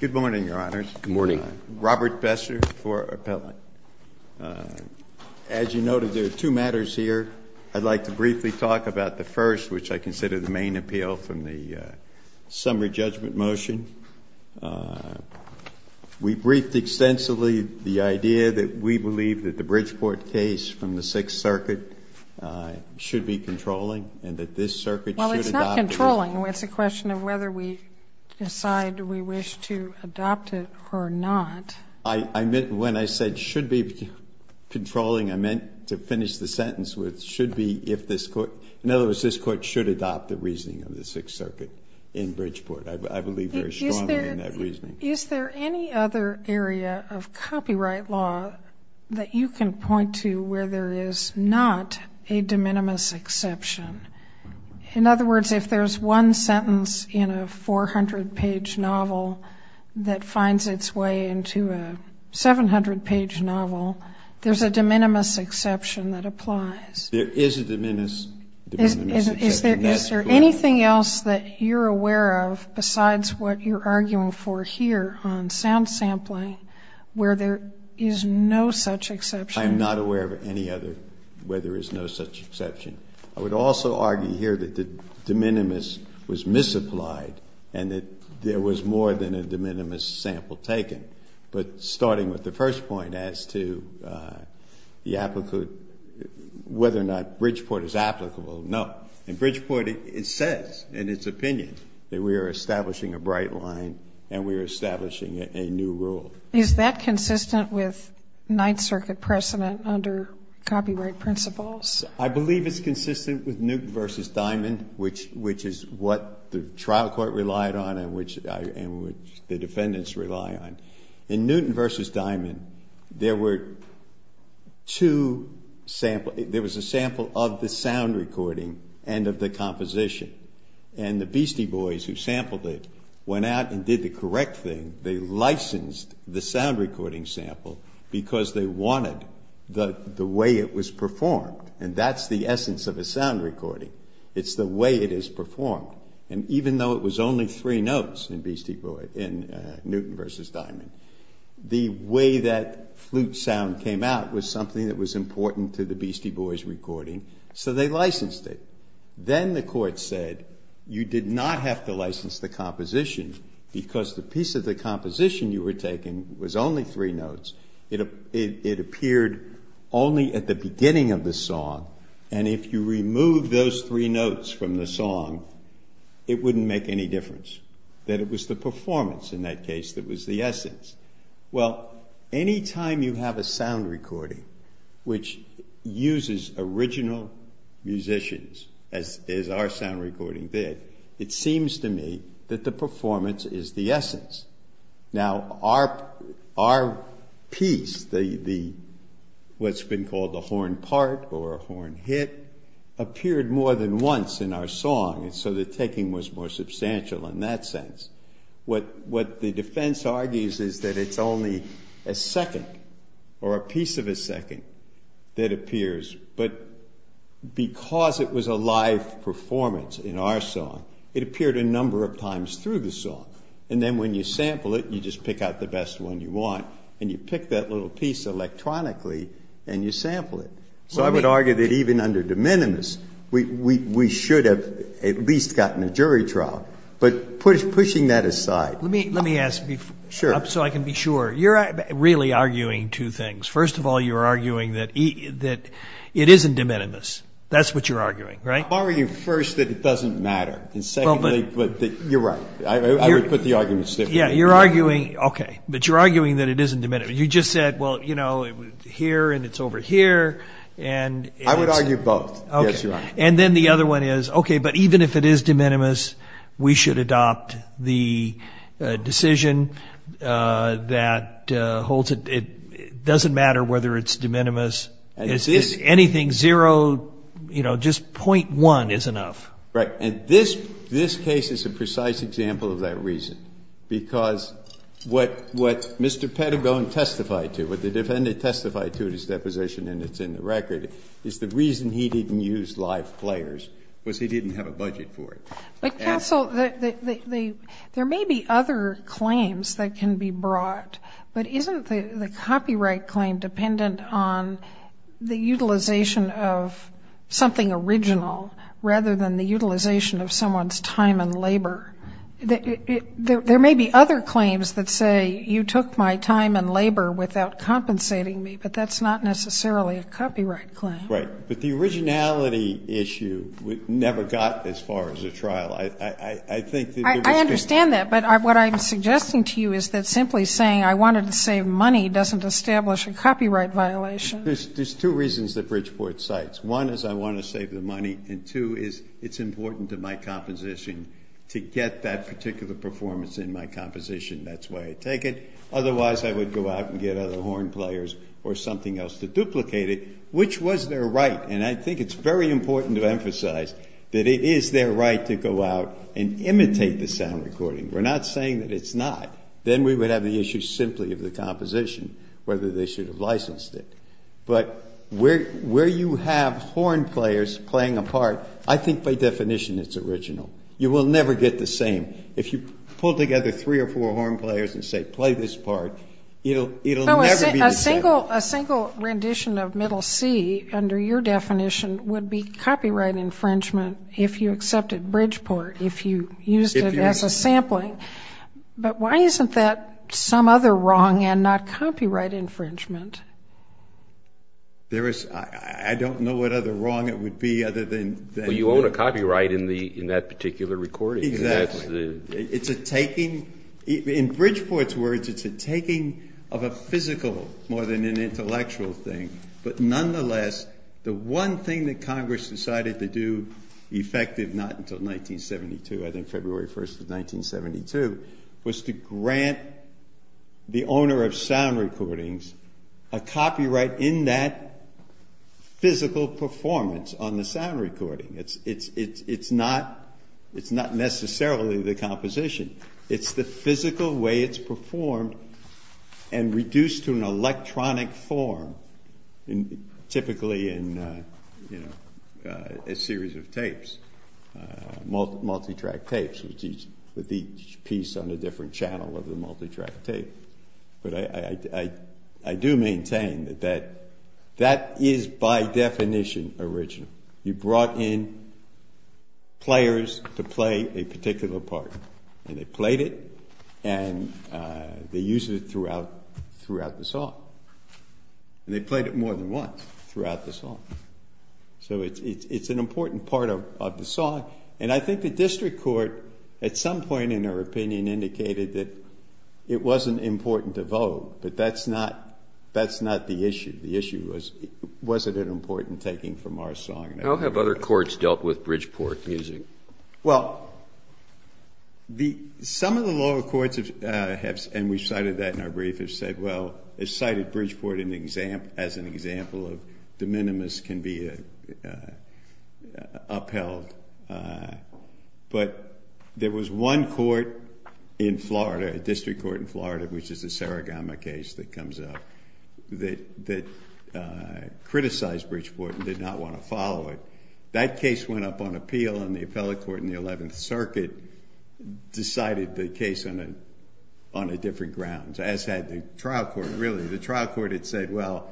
Good morning, Your Honors. Good morning. Robert Besser for Appellant. As you noted, there are two matters here. I'd like to briefly talk about the first, which I consider the main appeal from the summary judgment motion. We briefed extensively the idea that we believe that the Bridgeport case from the Sixth Circuit should be controlling and that this circuit should adopt it. Well, it's not controlling. It's a question of whether we decide we wish to adopt it or not. I meant when I said should be controlling, I meant to finish the sentence with should be if this court, in other words, this court should adopt the reasoning of the Sixth Circuit in Bridgeport. I believe very strongly in that reasoning. Is there any other area of copyright law that you can point to where there is not a de minimis exception? In other words, if there's one sentence in a 400-page novel that finds its way into a 700-page novel, there's a de minimis exception that applies. There is a de minimis exception. Is there anything else that you're aware of besides what you're arguing for here on sound sampling where there is no such exception? I am not aware of any other where there is no such exception. I would also argue here that the de minimis was misapplied and that there was more than a de minimis sample taken. But starting with the first point as to whether or not Bridgeport is applicable, no. In Bridgeport, it says in its opinion that we are establishing a bright line and we are establishing a new rule. Is that consistent with Ninth Circuit precedent under copyright principles? I believe it's consistent with Newton v. Diamond, which is what the trial court relied on and which the defendants rely on. In Newton v. Diamond, there were two samples. There was a sample of the sound recording and of the composition. The Beastie Boys who sampled it went out and did the correct thing. They licensed the sound recording sample because they wanted the way it was performed. That's the essence of a sound recording. It's the way it is performed. Even though it was only three notes in Newton v. Diamond, the way that flute sound came out was something that the Beastie Boys recorded, so they licensed it. Then the court said you did not have to license the composition because the piece of the composition you were taking was only three notes. It appeared only at the beginning of the song and if you remove those three notes from the song, it wouldn't make any difference. It was the performance in that case that was the essence. Well, any time you have a sound recording which uses original musicians as our sound recording did, it seems to me that the performance is the essence. Now our piece, what's been called the horn part or a horn hit, appeared more than once in our song, so the taking was more substantial in that sense. What the defense argues is that it's only a second or a piece of a second that appears, but because it was a live performance in our song, it appeared a number of times through the song. Then when you sample it, you just pick out the best one you want and you pick that little piece electronically and you sample it. So I would argue that even under de minimis, we should have at least gotten a jury trial, but pushing that aside. Let me ask, so I can be sure. You're really arguing two things. First of all, you're arguing that it isn't de minimis. That's what you're arguing, right? I'm arguing first that it doesn't matter and secondly, you're right. I would put the arguments differently. You're arguing that it isn't de minimis. You just said, well, here and it's over here. I would argue both. Yes, you are. Then the other one is, okay, but even if it is de minimis, we should adopt the decision that it doesn't matter whether it's de minimis. Anything zero, just .1 is enough. Right. This case is a precise example of that reason because what Mr. Pettigone testified to, what the defendant testified to in his deposition and it's in the record, is the reason he didn't use live players was he didn't have a budget for it. But counsel, there may be other claims that can be brought, but isn't the copyright claim dependent on the utilization of something original rather than the utilization of someone's time and labor? There may be other claims that say you took my time and labor without compensating me, but that's not necessarily a copyright claim. Right. But the originality issue never got as far as a trial. I think that there was been I understand that, but what I'm suggesting to you is that simply saying I wanted to save money doesn't establish a copyright violation. There's two reasons that Bridgeport cites. One is I want to save the money and two is it's important to my composition to get that particular performance in my composition. That's why I take it. Otherwise I would go out and get other horn players or something else to duplicate it, which was their right. And I think it's very important to emphasize that it is their right to go out and imitate the sound recording. We're not saying that it's not. Then we would have the issue simply of the composition, whether they should have licensed it. But where you have horn players playing a part, I think by definition it's original. You will never get the same. If you pull together three or four horn players and say play this part, it'll never be the same. A single rendition of Middle C under your definition would be copyright infringement if you accepted Bridgeport, if you used it as a sampling. But why isn't that some other wrong and not copyright infringement? There is, I don't know what other wrong it would be other than... Well, you own a copyright in that particular recording. Exactly. It's a taking, in Bridgeport's words, it's a taking of a physical more than an intellectual thing. But nonetheless, the one thing that Congress decided to do, effective not until 1972, I was to grant the owner of sound recordings a copyright in that physical performance on the sound recording. It's not necessarily the composition. It's the physical way it's performed and reduced to an electronic form, typically in a series of tapes, multi-track tapes with each piece on a different channel of the multi-track tape. But I do maintain that that is by definition original. You brought in players to play a particular part and they played it and they used it throughout the song. And they played it more than once throughout the song. So it's an important part of the song. And I think the district court, at some point in her opinion, indicated that it wasn't important to vote. But that's not the issue. The issue was, was it an important taking from our song? How have other courts dealt with Bridgeport music? Well, some of the lower courts have, and we've cited that in our brief, have said, well, it's cited Bridgeport as an example of de minimis can be upheld. But there was one court in Florida, a district court in Florida, which is the Saragama case that comes up, that criticized Bridgeport and did not want to follow it. That case went up on appeal and the appellate court in the 11th Circuit decided the case on a different grounds, as had the trial court, really. The trial court had said, well,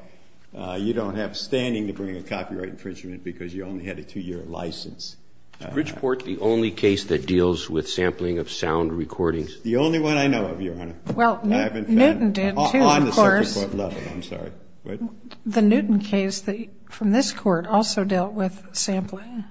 you don't have standing to bring a copyright infringement because you only had a two-year license. Is Bridgeport the only case that deals with sampling of sound recordings? The only one I know of, Your Honor. I haven't been on the separate court level. Well, Newton did, too, of course. The Newton case from this court also dealt with sampling.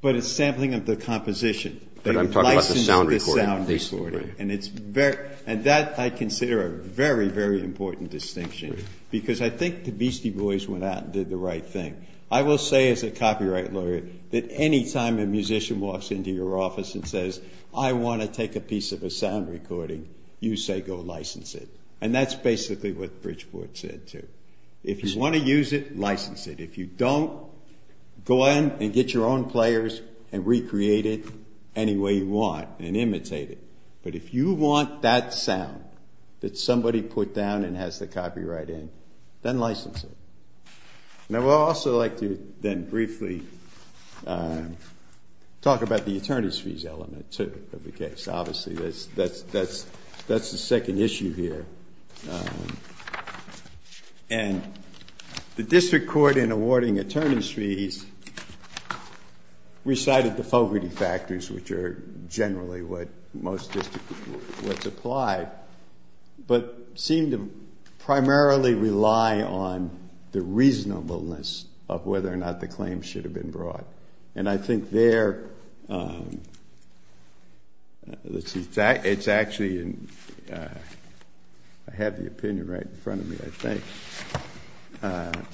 But it's sampling of the composition. But I'm talking about the sound recording. And that I consider a very, very important distinction, because I think the Beastie Boys went out and did the right thing. I will say as a copyright lawyer that any time a musician walks into your office and says, I want to take a piece of a sound recording, you say go license it. And that's basically what Bridgeport said, too. If you want to use it, license it. If you don't, go ahead and get your own players and recreate it any way you want and imitate it. But if you want that sound that somebody put down and has the copyright in, then license it. Now, I would also like to then briefly talk about the attorneys' fees element, too, of the case. Obviously, that's the second issue here. And the district court, in awarding it, most district courts applied, but seemed to primarily rely on the reasonableness of whether or not the claim should have been brought. And I think there, let's see, it's actually in, I have the opinion right in front of me, I think.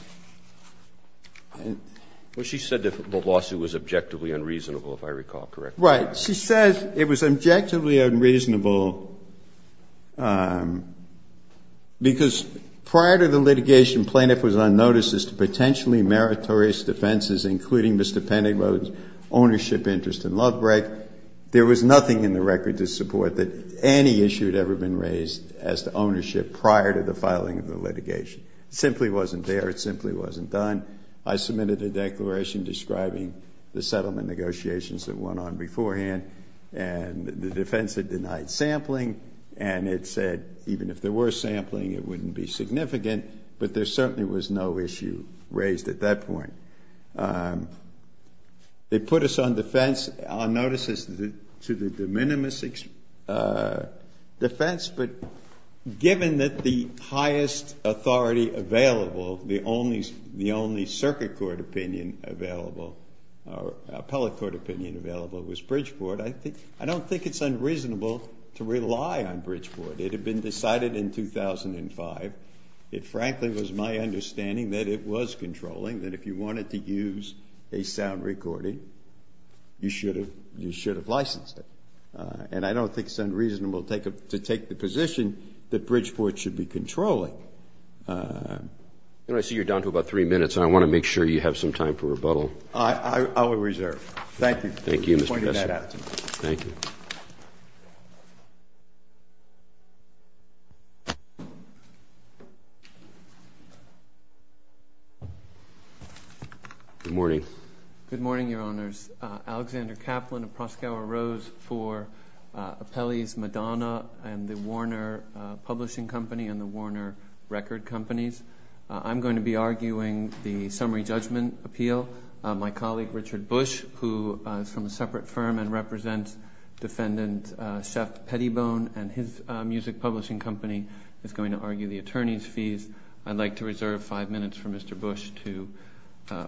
Well, she said the lawsuit was objectively unreasonable, if I recall correctly. Right. She said it was objectively unreasonable because prior to the litigation, plaintiff was on notice as to potentially meritorious defenses, including Mr. Pennywode's ownership interest in Lovebreak. There was nothing in the record to support that any issue had ever been raised as to ownership prior to the filing of the litigation. It simply wasn't there. It simply wasn't done. I submitted a declaration describing the settlement negotiations that went on beforehand, and the defense had denied sampling, and it said even if there were sampling, it wouldn't be significant, but there certainly was no issue raised at that point. They put us on notice as to the de minimis defense, but given that the highest authority available, the only circuit court opinion available, or appellate court opinion available, was Bridgeport, I don't think it's unreasonable to rely on Bridgeport. It had been decided in 2005. It frankly was my understanding that it was controlling, that if you wanted to use a sound recording, you should have licensed it. And I don't think it's unreasonable to take the position that Bridgeport should be controlling. I see you're down to about three minutes, and I want to make sure you have some time for rebuttal. I will reserve. Thank you for pointing that out to me. Good morning. Good morning, Your Honors. Alexander Kaplan of Proskauer Rose for Appellees Madonna and the Warner Publishing Company and the Warner Record Companies. I'm going to be arguing the summary judgment appeal. My colleague, Richard Bush, who is from a separate firm and represents defendant Shep Pettibone and his music publishing company, is going to argue the attorney's fees. I'd like to reserve five minutes for Mr. Bush to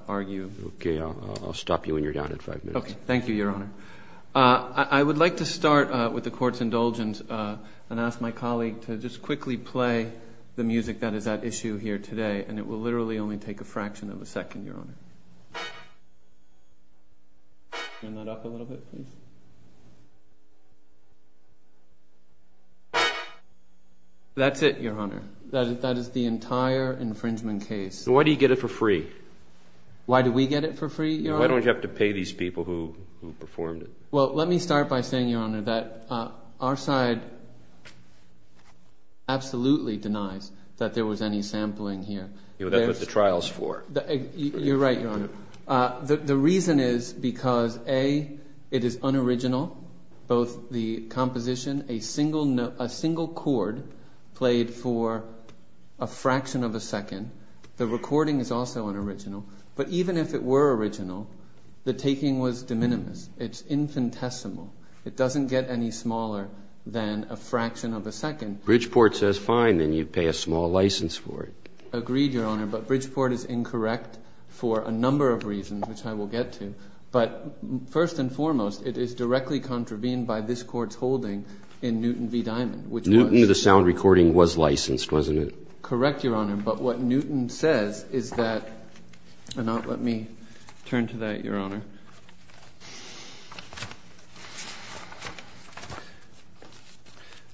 argue. Okay. I'll stop you when you're down at five minutes. Okay. Thank you, Your Honor. I would like to start with the court's indulgence and ask my colleague to just quickly play the music that is at issue here today, and it will literally only take a fraction of a second, Your Honor. Turn that up a little bit, please. That's it, Your Honor. That is the entire infringement case. Why do you get it for free? Why do we get it for free, Your Honor? Why don't you have to pay these people who performed it? Well, let me start by saying, Your Honor, that our side absolutely denies that there was any sampling here. That's what the trial's for. You're right, Your Honor. The reason is because, A, it is unoriginal, both the composition, a single chord played for a fraction of a second. The recording is also unoriginal. But even if it were original, the taking was de minimis. It's infinitesimal. It doesn't get any smaller than a fraction of a second. Bridgeport says fine, then you pay a small license for it. Agreed, Your Honor, but Bridgeport is incorrect for a number of reasons, which I will get to. But first and foremost, it is directly contravened by this Court's holding in Newton v. Diamond, which was— Newton, the sound recording, was licensed, wasn't it? Correct, Your Honor, but what Newton says is that—let me turn to that, Your Honor.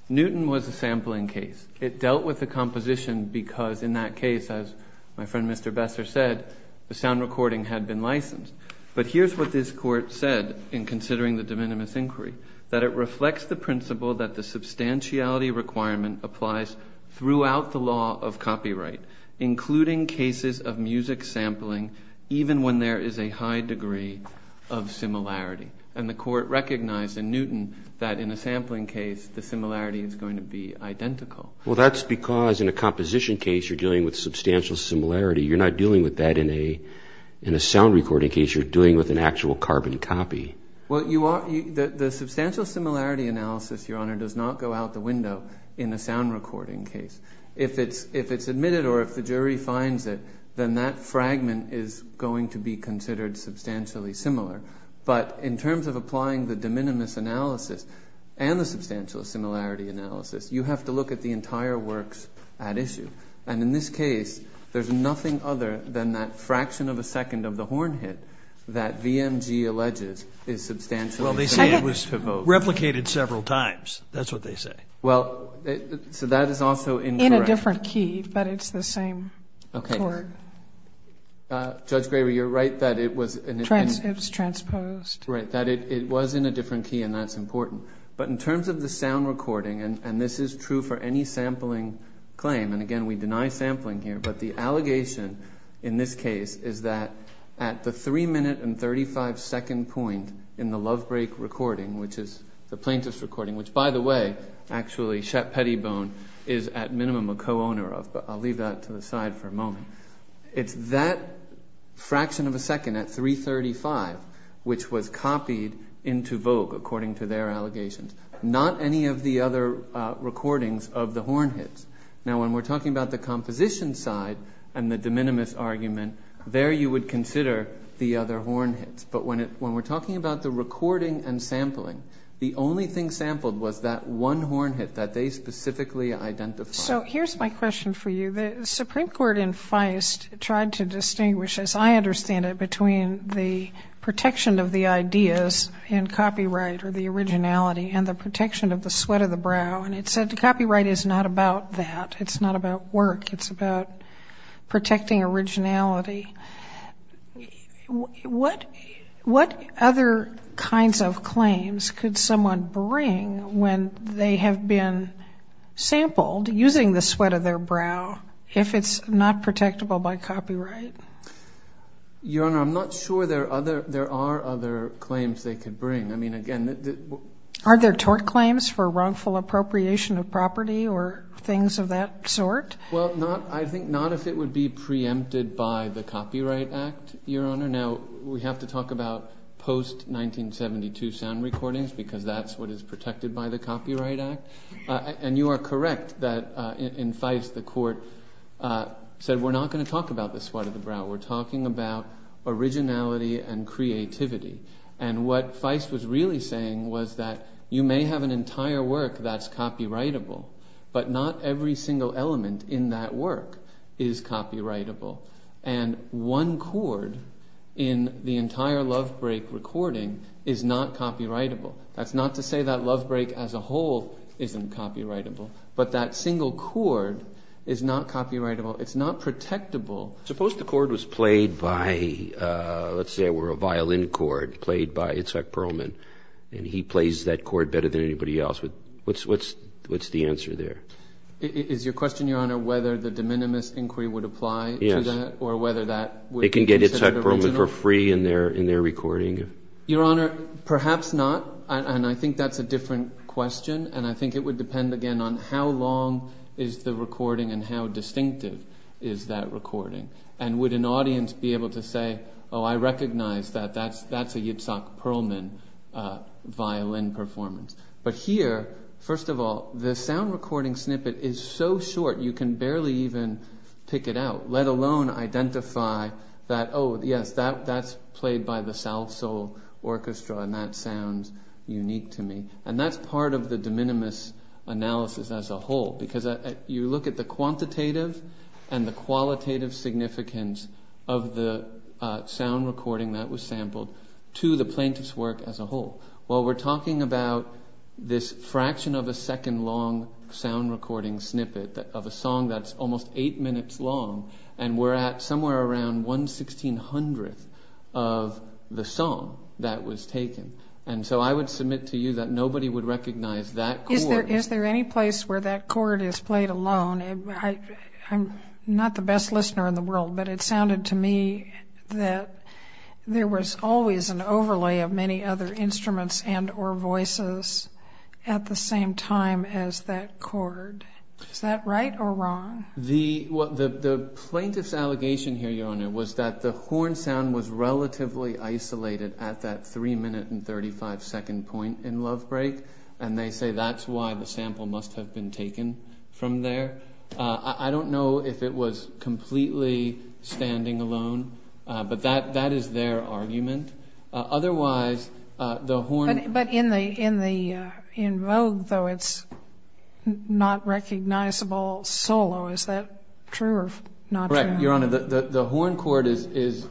Newton was a sampling case. It dealt with the composition because, in that case, as my friend Mr. Besser said, the sound recording had been licensed. But here's what this Court said in considering the de minimis inquiry, that it reflects the principle that the substantiality requirement applies throughout the law of copyright, including cases of music sampling, even when there is a high degree of similarity. And the Court recognized in Newton that in a sampling case, the similarity is going to be identical. Well, that's because in a composition case, you're dealing with substantial similarity. You're not dealing with that in a sound recording case. You're dealing with an actual carbon copy. Well, the substantial similarity analysis, Your Honor, does not go out the window in a sound recording case. If it's admitted or if the jury finds it, then that fragment is going to be considered substantially similar. But in terms of applying the de minimis analysis and the substantial similarity analysis, you have to look at the entire works at issue. And in this case, there's nothing other than that fraction of a second of the horn hit that VMG alleges is substantially similar to Vogue. Well, they say it was replicated several times. That's what they say. Well, so that is also incorrect. In a different key, but it's the same court. Okay. Judge Graber, you're right that it was in a different key. It was transposed. Right, that it was in a different key, and that's important. But in terms of the sound recording, and this is true for any sampling claim, and again, we deny sampling here, but the allegation in this case is that at the 3 minute and 35 second point in the Lovebreak recording, which is the plaintiff's recording, which by the way, actually Shet Pettybone is at minimum a co-owner of, but I'll leave that to the side for a moment. It's that fraction of a second at 3.35, which was copied into Vogue according to their allegations. Not any of the other recordings of the horn hits. Now, when we're talking about the composition side and the de minimis argument, there you would consider the other horn hits. But when we're talking about the recording and sampling, the only thing sampled was that one horn hit that they specifically identified. So here's my question for you. The Supreme Court in Feist tried to distinguish, as I understand it, between the protection of the ideas in copyright or the originality and the protection of the sweat of the brow, and it said copyright is not about that. It's not about work. It's about protecting originality. What other kinds of claims could someone bring when they have been sampled using the sweat of their brow if it's not protectable by copyright? Your Honor, I'm not sure there are other claims they could bring. I mean, again, Are there tort claims for wrongful appropriation of property or things of that sort? Well, I think not if it would be preempted by the Copyright Act, Your Honor. Now, we have to talk about post-1972 sound recordings because that's what is protected by the Copyright Act. And you are correct that in Feist the Court said we're not going to talk about the sweat of the brow. We're talking about originality and creativity. And what Feist was really saying was that you may have an entire work that's copyrightable, but not every single element in that work is copyrightable. And one chord in the entire Love Break recording is not copyrightable. That's not to say that Love Break as a whole isn't copyrightable, but that single chord is not copyrightable. It's not protectable. Suppose the chord was played by, let's say it were a violin chord played by Itzhak Perlman, and he plays that chord better than anybody else. What's the answer there? Is your question, Your Honor, whether the de minimis inquiry would apply to that or whether that would be considered original? They can get Itzhak Perlman for free in their recording. Your Honor, perhaps not. And I think that's a different question. And I think it would depend again on how long is the recording and how distinctive is that recording. And would an audience be able to say, oh, I recognize that that's a Itzhak Perlman violin performance. But here, first of all, the sound recording snippet is so short you can barely even pick it out, let alone identify that, oh, yes, that's played by the South Soul Orchestra and that sounds unique to me. And that's part of the de minimis analysis as a whole, because you look at the quantitative and the qualitative significance of the sound recording that was sampled to the plaintiff's work as a whole. Well, we're talking about this fraction of a second long sound recording snippet of a song that's almost eight minutes long, and we're at somewhere around one sixteen hundredth of the song that was taken. And so I would submit to you that nobody would recognize that. Is there any place where that chord is played alone? I'm not the best listener in the world, but it sounded to me that there was always an overlay of many other instruments and or voices at the same time as that chord. Is that right or wrong? The plaintiff's allegation here, Your Honor, was that the horn sound was relatively isolated at that three minute and thirty five second point in Love Break, and they say that's why the sample must have been taken from there. I don't know if it was completely standing alone, but that is their argument. Otherwise, the horn. But in Vogue, though, it's not recognizable solo. Is that true or not? Your Honor, the horn chord is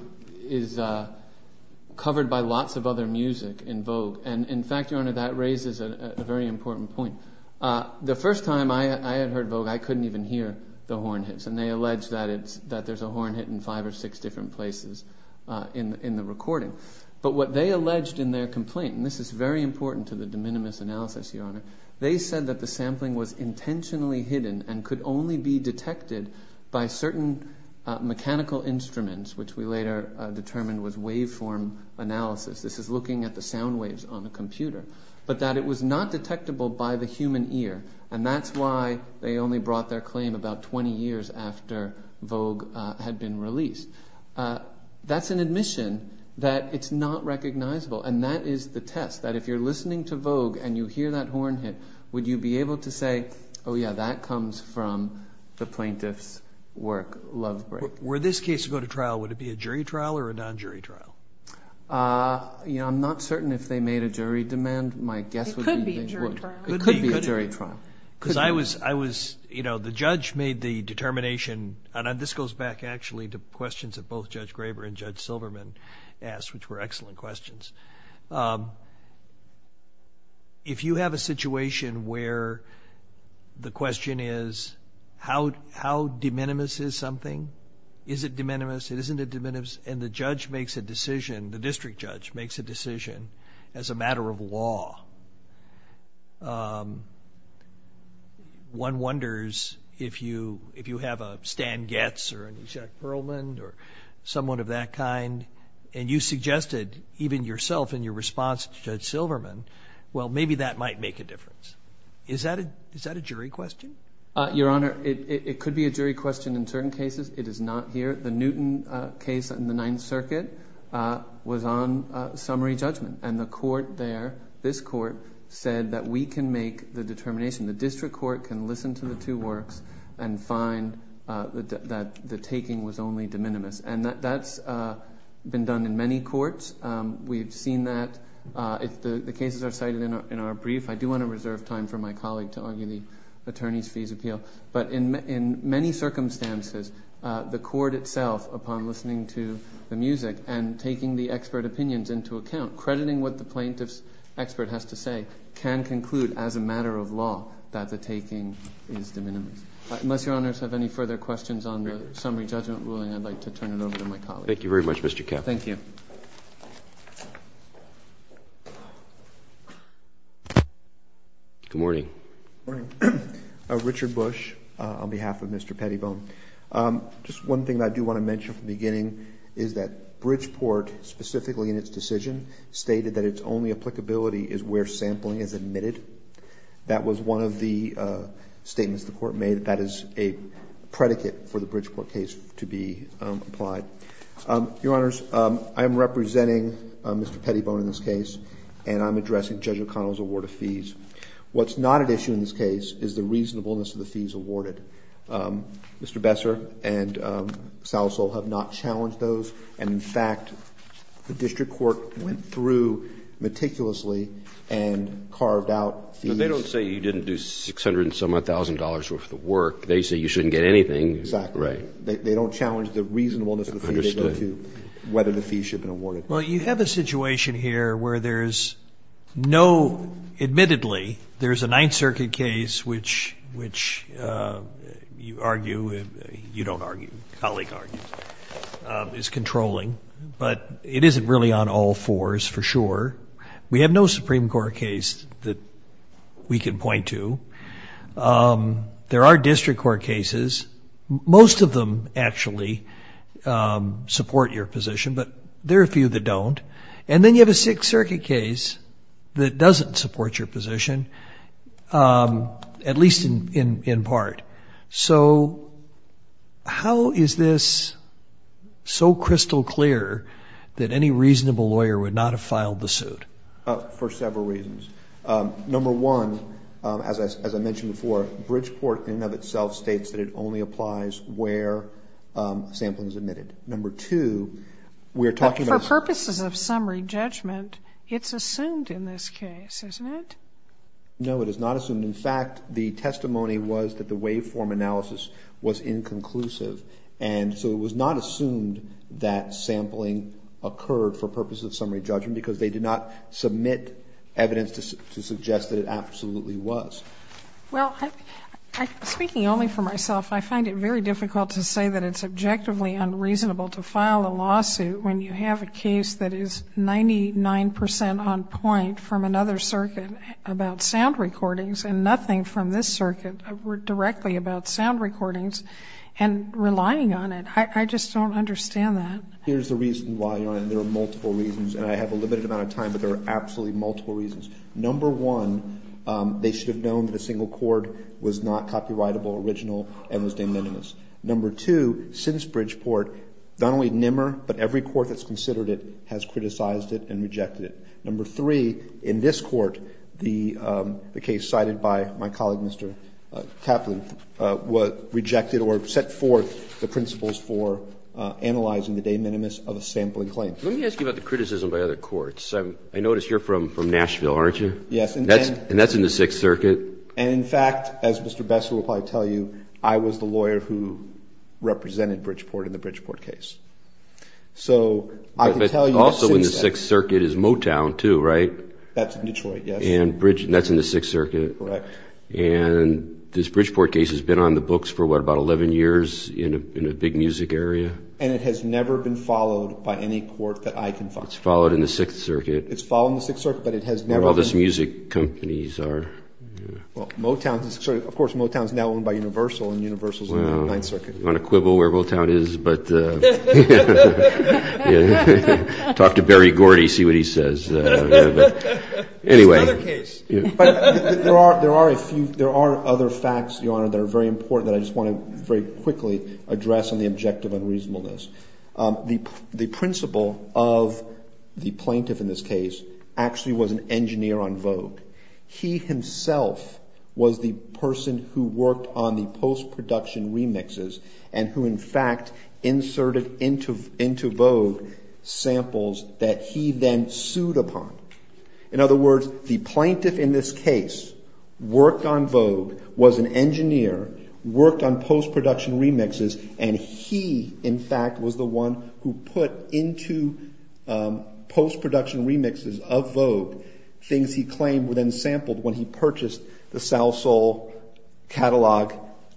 covered by lots of other music in Vogue, and in fact, Your Honor, that raises a very important point. The first time I had heard Vogue, I couldn't even hear the horn hits, and they allege that there's a horn hit in five or six different places in the recording. But what they alleged in their complaint, and this is very important to the de minimis analysis, Your Honor, they said that the mechanical instruments, which we later determined was waveform analysis, this is looking at the sound waves on the computer, but that it was not detectable by the human ear, and that's why they only brought their claim about twenty years after Vogue had been released. That's an admission that it's not recognizable, and that is the test, that if you're listening to Vogue and you hear that horn hit, would you be able to Were this case to go to trial, would it be a jury trial or a non-jury trial? I'm not certain if they made a jury demand. My guess would be they would. It could be a jury trial. It could be a jury trial. Because I was, you know, the judge made the determination, and this goes back actually to questions that both Judge Graber and Judge Silverman asked, which were excellent is it de minimis, isn't it de minimis, and the judge makes a decision, the district judge makes a decision as a matter of law. One wonders if you have a Stan Getz or an E. Jack Perlman or someone of that kind, and you suggested even yourself in your response to Judge Silverman, well, maybe that might make a difference. Is that a jury question? Your Honor, it could be a jury question in certain cases. It is not here. The Newton case in the Ninth Circuit was on summary judgment, and the court there, this court, said that we can make the determination, the district court can listen to the two works and find that the taking was only de minimis, and that's been done in many courts. We've seen that. The cases are cited in our brief. I do want to reserve time for my colleague to argue the attorneys' fees appeal, but in many circumstances, the court itself, upon listening to the music and taking the expert opinions into account, crediting what the plaintiff's expert has to say, can conclude as a matter of law that the taking is de minimis. Unless Your Honors have any further questions on the summary judgment ruling, I'd like to turn it over to my colleague. Thank you very much, Mr. Kapp. Thank you. Good morning. Richard Bush on behalf of Mr. Pettibone. Just one thing I do want to mention from the beginning is that Bridgeport, specifically in its decision, stated that its only applicability is where sampling is admitted. That was one of the statements the court made. That is a predicate for the Bridgeport case to be applied. Your Honors, I'm representing Mr. Pettibone in this case, and I'm addressing Judge McConnell's award of fees. What's not at issue in this case is the reasonableness of the fees awarded. Mr. Besser and Salasol have not challenged those, and in fact, the district court went through meticulously and carved out fees. No, they don't say you didn't do $600 and some-odd thousand dollars worth of work. They say you shouldn't get anything. Exactly. Right. They don't challenge the reasonableness of the fees. Understood. Whether the fees should have been awarded. Well, you have a situation here where there's no, admittedly, there's a Ninth Circuit case which you argue, you don't argue, your colleague argues, is controlling, but it isn't really on all fours for sure. We have no Supreme Court case that we can point to. There are district court cases. Most of them actually support your position, but there are a few that don't. And then you have a Sixth Circuit case that doesn't support your position, at least in part. So how is this so crystal clear that any reasonable lawyer would not have filed the suit? For several reasons. Number one, as I mentioned before, Bridgeport in and of For purposes of summary judgment, it's assumed in this case, isn't it? No, it is not assumed. In fact, the testimony was that the waveform analysis was inconclusive. And so it was not assumed that sampling occurred for purposes of summary judgment because they did not submit evidence to suggest that it absolutely was. Well, speaking only for myself, I find it very difficult to say that it's objectively unreasonable to file a lawsuit when you have a case that is 99 percent on point from another circuit about sound recordings and nothing from this circuit directly about sound recordings, and relying on it. I just don't understand that. Here's the reason why, Your Honor, and there are multiple reasons, and I have a limited amount of time, but there are absolutely multiple reasons. Number one, they should have known that a single cord was not copyrightable, original, and was de minimis. Number two, since Bridgeport, not only NMR, but every court that's considered it has criticized it and rejected it. Number three, in this court, the case cited by my colleague, Mr. Kaplan, was rejected or set forth the principles for analyzing the de minimis of a sampling claim. Let me ask you about the criticism by other courts. I notice you're from Nashville, aren't you? Yes. And that's in the Sixth Circuit. And, in fact, as Mr. Besser will probably tell you, I was the lawyer who represented Bridgeport in the Bridgeport case. So I can tell you the Sixth Circuit. But also in the Sixth Circuit is Motown, too, right? That's in Detroit, yes. And that's in the Sixth Circuit. Correct. And this Bridgeport case has been on the books for, what, about 11 years in a big music area? And it has never been followed by any court that I can think of. It's followed in the Sixth Circuit. It's followed in the Sixth Circuit, but it has never been... I don't know where all those music companies are. Well, Motown, of course, Motown is now owned by Universal, and Universal is in the Ninth Circuit. You want to quibble where Motown is, but... Talk to Barry Gordy, see what he says. It's another case. There are other facts, Your Honor, that are very important that I just want to very quickly address on the objective unreasonableness. The principle of the plaintiff in this case actually was an engineer on Vogue. He himself was the person who worked on the post-production remixes and who, in fact, inserted into Vogue samples that he then sued upon. In other words, the plaintiff in this case worked on Vogue, was an engineer, worked on post-production remixes, and he, in fact, was the one who put into post-production remixes of Vogue things he claimed were then sampled when he purchased the Sal Sol catalog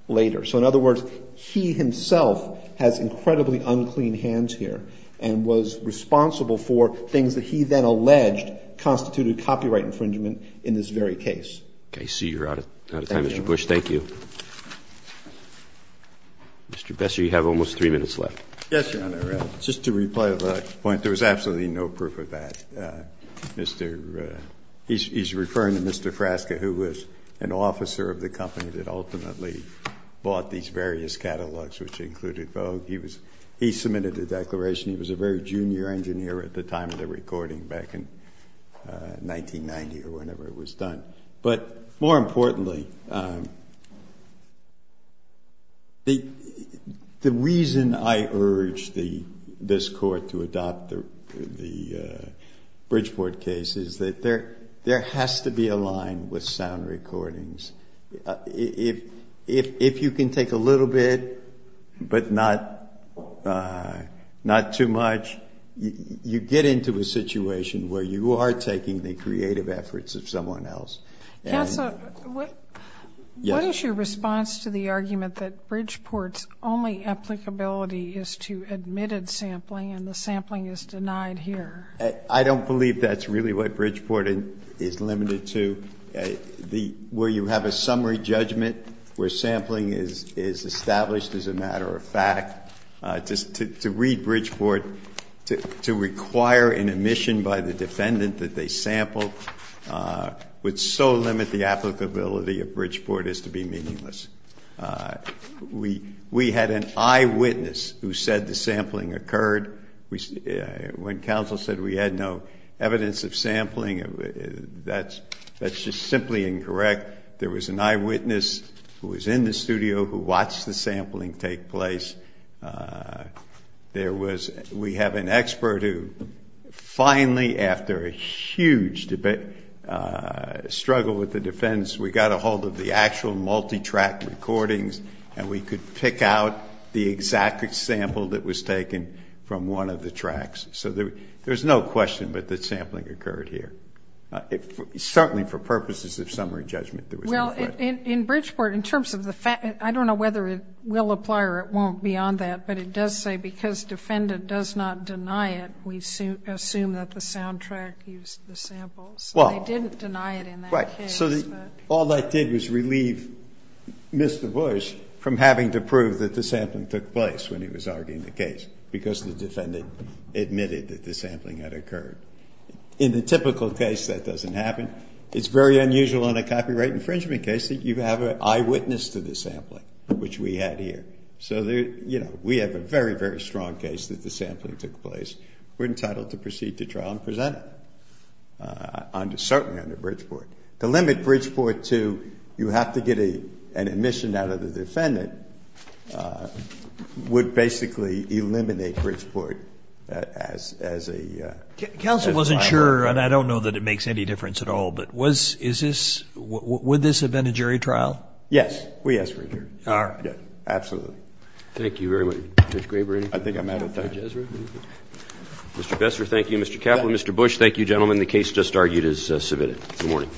later. So, in other words, he himself has incredibly unclean hands here and was responsible for things that he then alleged constituted copyright infringement in this very case. Okay. I see you're out of time, Mr. Bush. Thank you. Mr. Besser, you have almost three minutes left. Yes, Your Honor. Just to reply to that point, there was absolutely no proof of that. Mr. He's referring to Mr. Frasca, who was an officer of the company that ultimately bought these various catalogs, which included Vogue. He was he submitted the declaration. He was a very junior engineer at the time of the recording back in 1990 or whenever it was done. But, more importantly, the reason I urge this Court to adopt the Bridgeport case is that there has to be a line with sound recordings. If you can take a little bit but not too much, you get into a situation where you are taking the creative efforts of someone else. Counsel, what is your response to the argument that Bridgeport's only applicability is to admitted sampling and the sampling is denied here? I don't believe that's really what Bridgeport is limited to. Where you have a summary judgment where sampling is established as a matter of fact, to read Bridgeport to require an admission by the defendant that they sampled would so limit the applicability of Bridgeport as to be meaningless. We had an eyewitness who said the sampling occurred. When counsel said we had no evidence of sampling, that's just simply incorrect. There was an eyewitness who was in the studio who watched the sampling take place. We have an expert who finally, after a huge struggle with the defendants, we got a hold of the actual multi-track recordings and we could pick out the exact sample that was taken from one of the tracks. So there's no question but that sampling occurred here. Certainly for purposes of summary judgment there was no question. Well, in Bridgeport, in terms of the fact, I don't know whether it will apply or it won't beyond that, but it does say because defendant does not deny it, we assume that the soundtrack used the samples. They didn't deny it in that case. Right. So all that did was relieve Mr. Bush from having to prove that the sampling took place when he was arguing the case because the defendant admitted that the sampling had occurred. In the typical case that doesn't happen. It's very unusual in a copyright infringement case that you have an eyewitness to the sampling, which we had here. So, you know, we have a very, very strong case that the sampling took place. We're entitled to proceed to trial and present it, certainly under Bridgeport. To limit Bridgeport to you have to get an admission out of the defendant would basically eliminate Bridgeport as a trial. Counsel wasn't sure, and I don't know that it makes any difference at all, but would this have been a jury trial? Yes. We asked for a jury trial. All right. Absolutely. Thank you very much, Judge Graber. I think I'm out of time. Judge Ezra. Mr. Kessler, thank you. Mr. Kaplan, Mr. Bush, thank you, gentlemen. The case just argued is submitted. Good morning.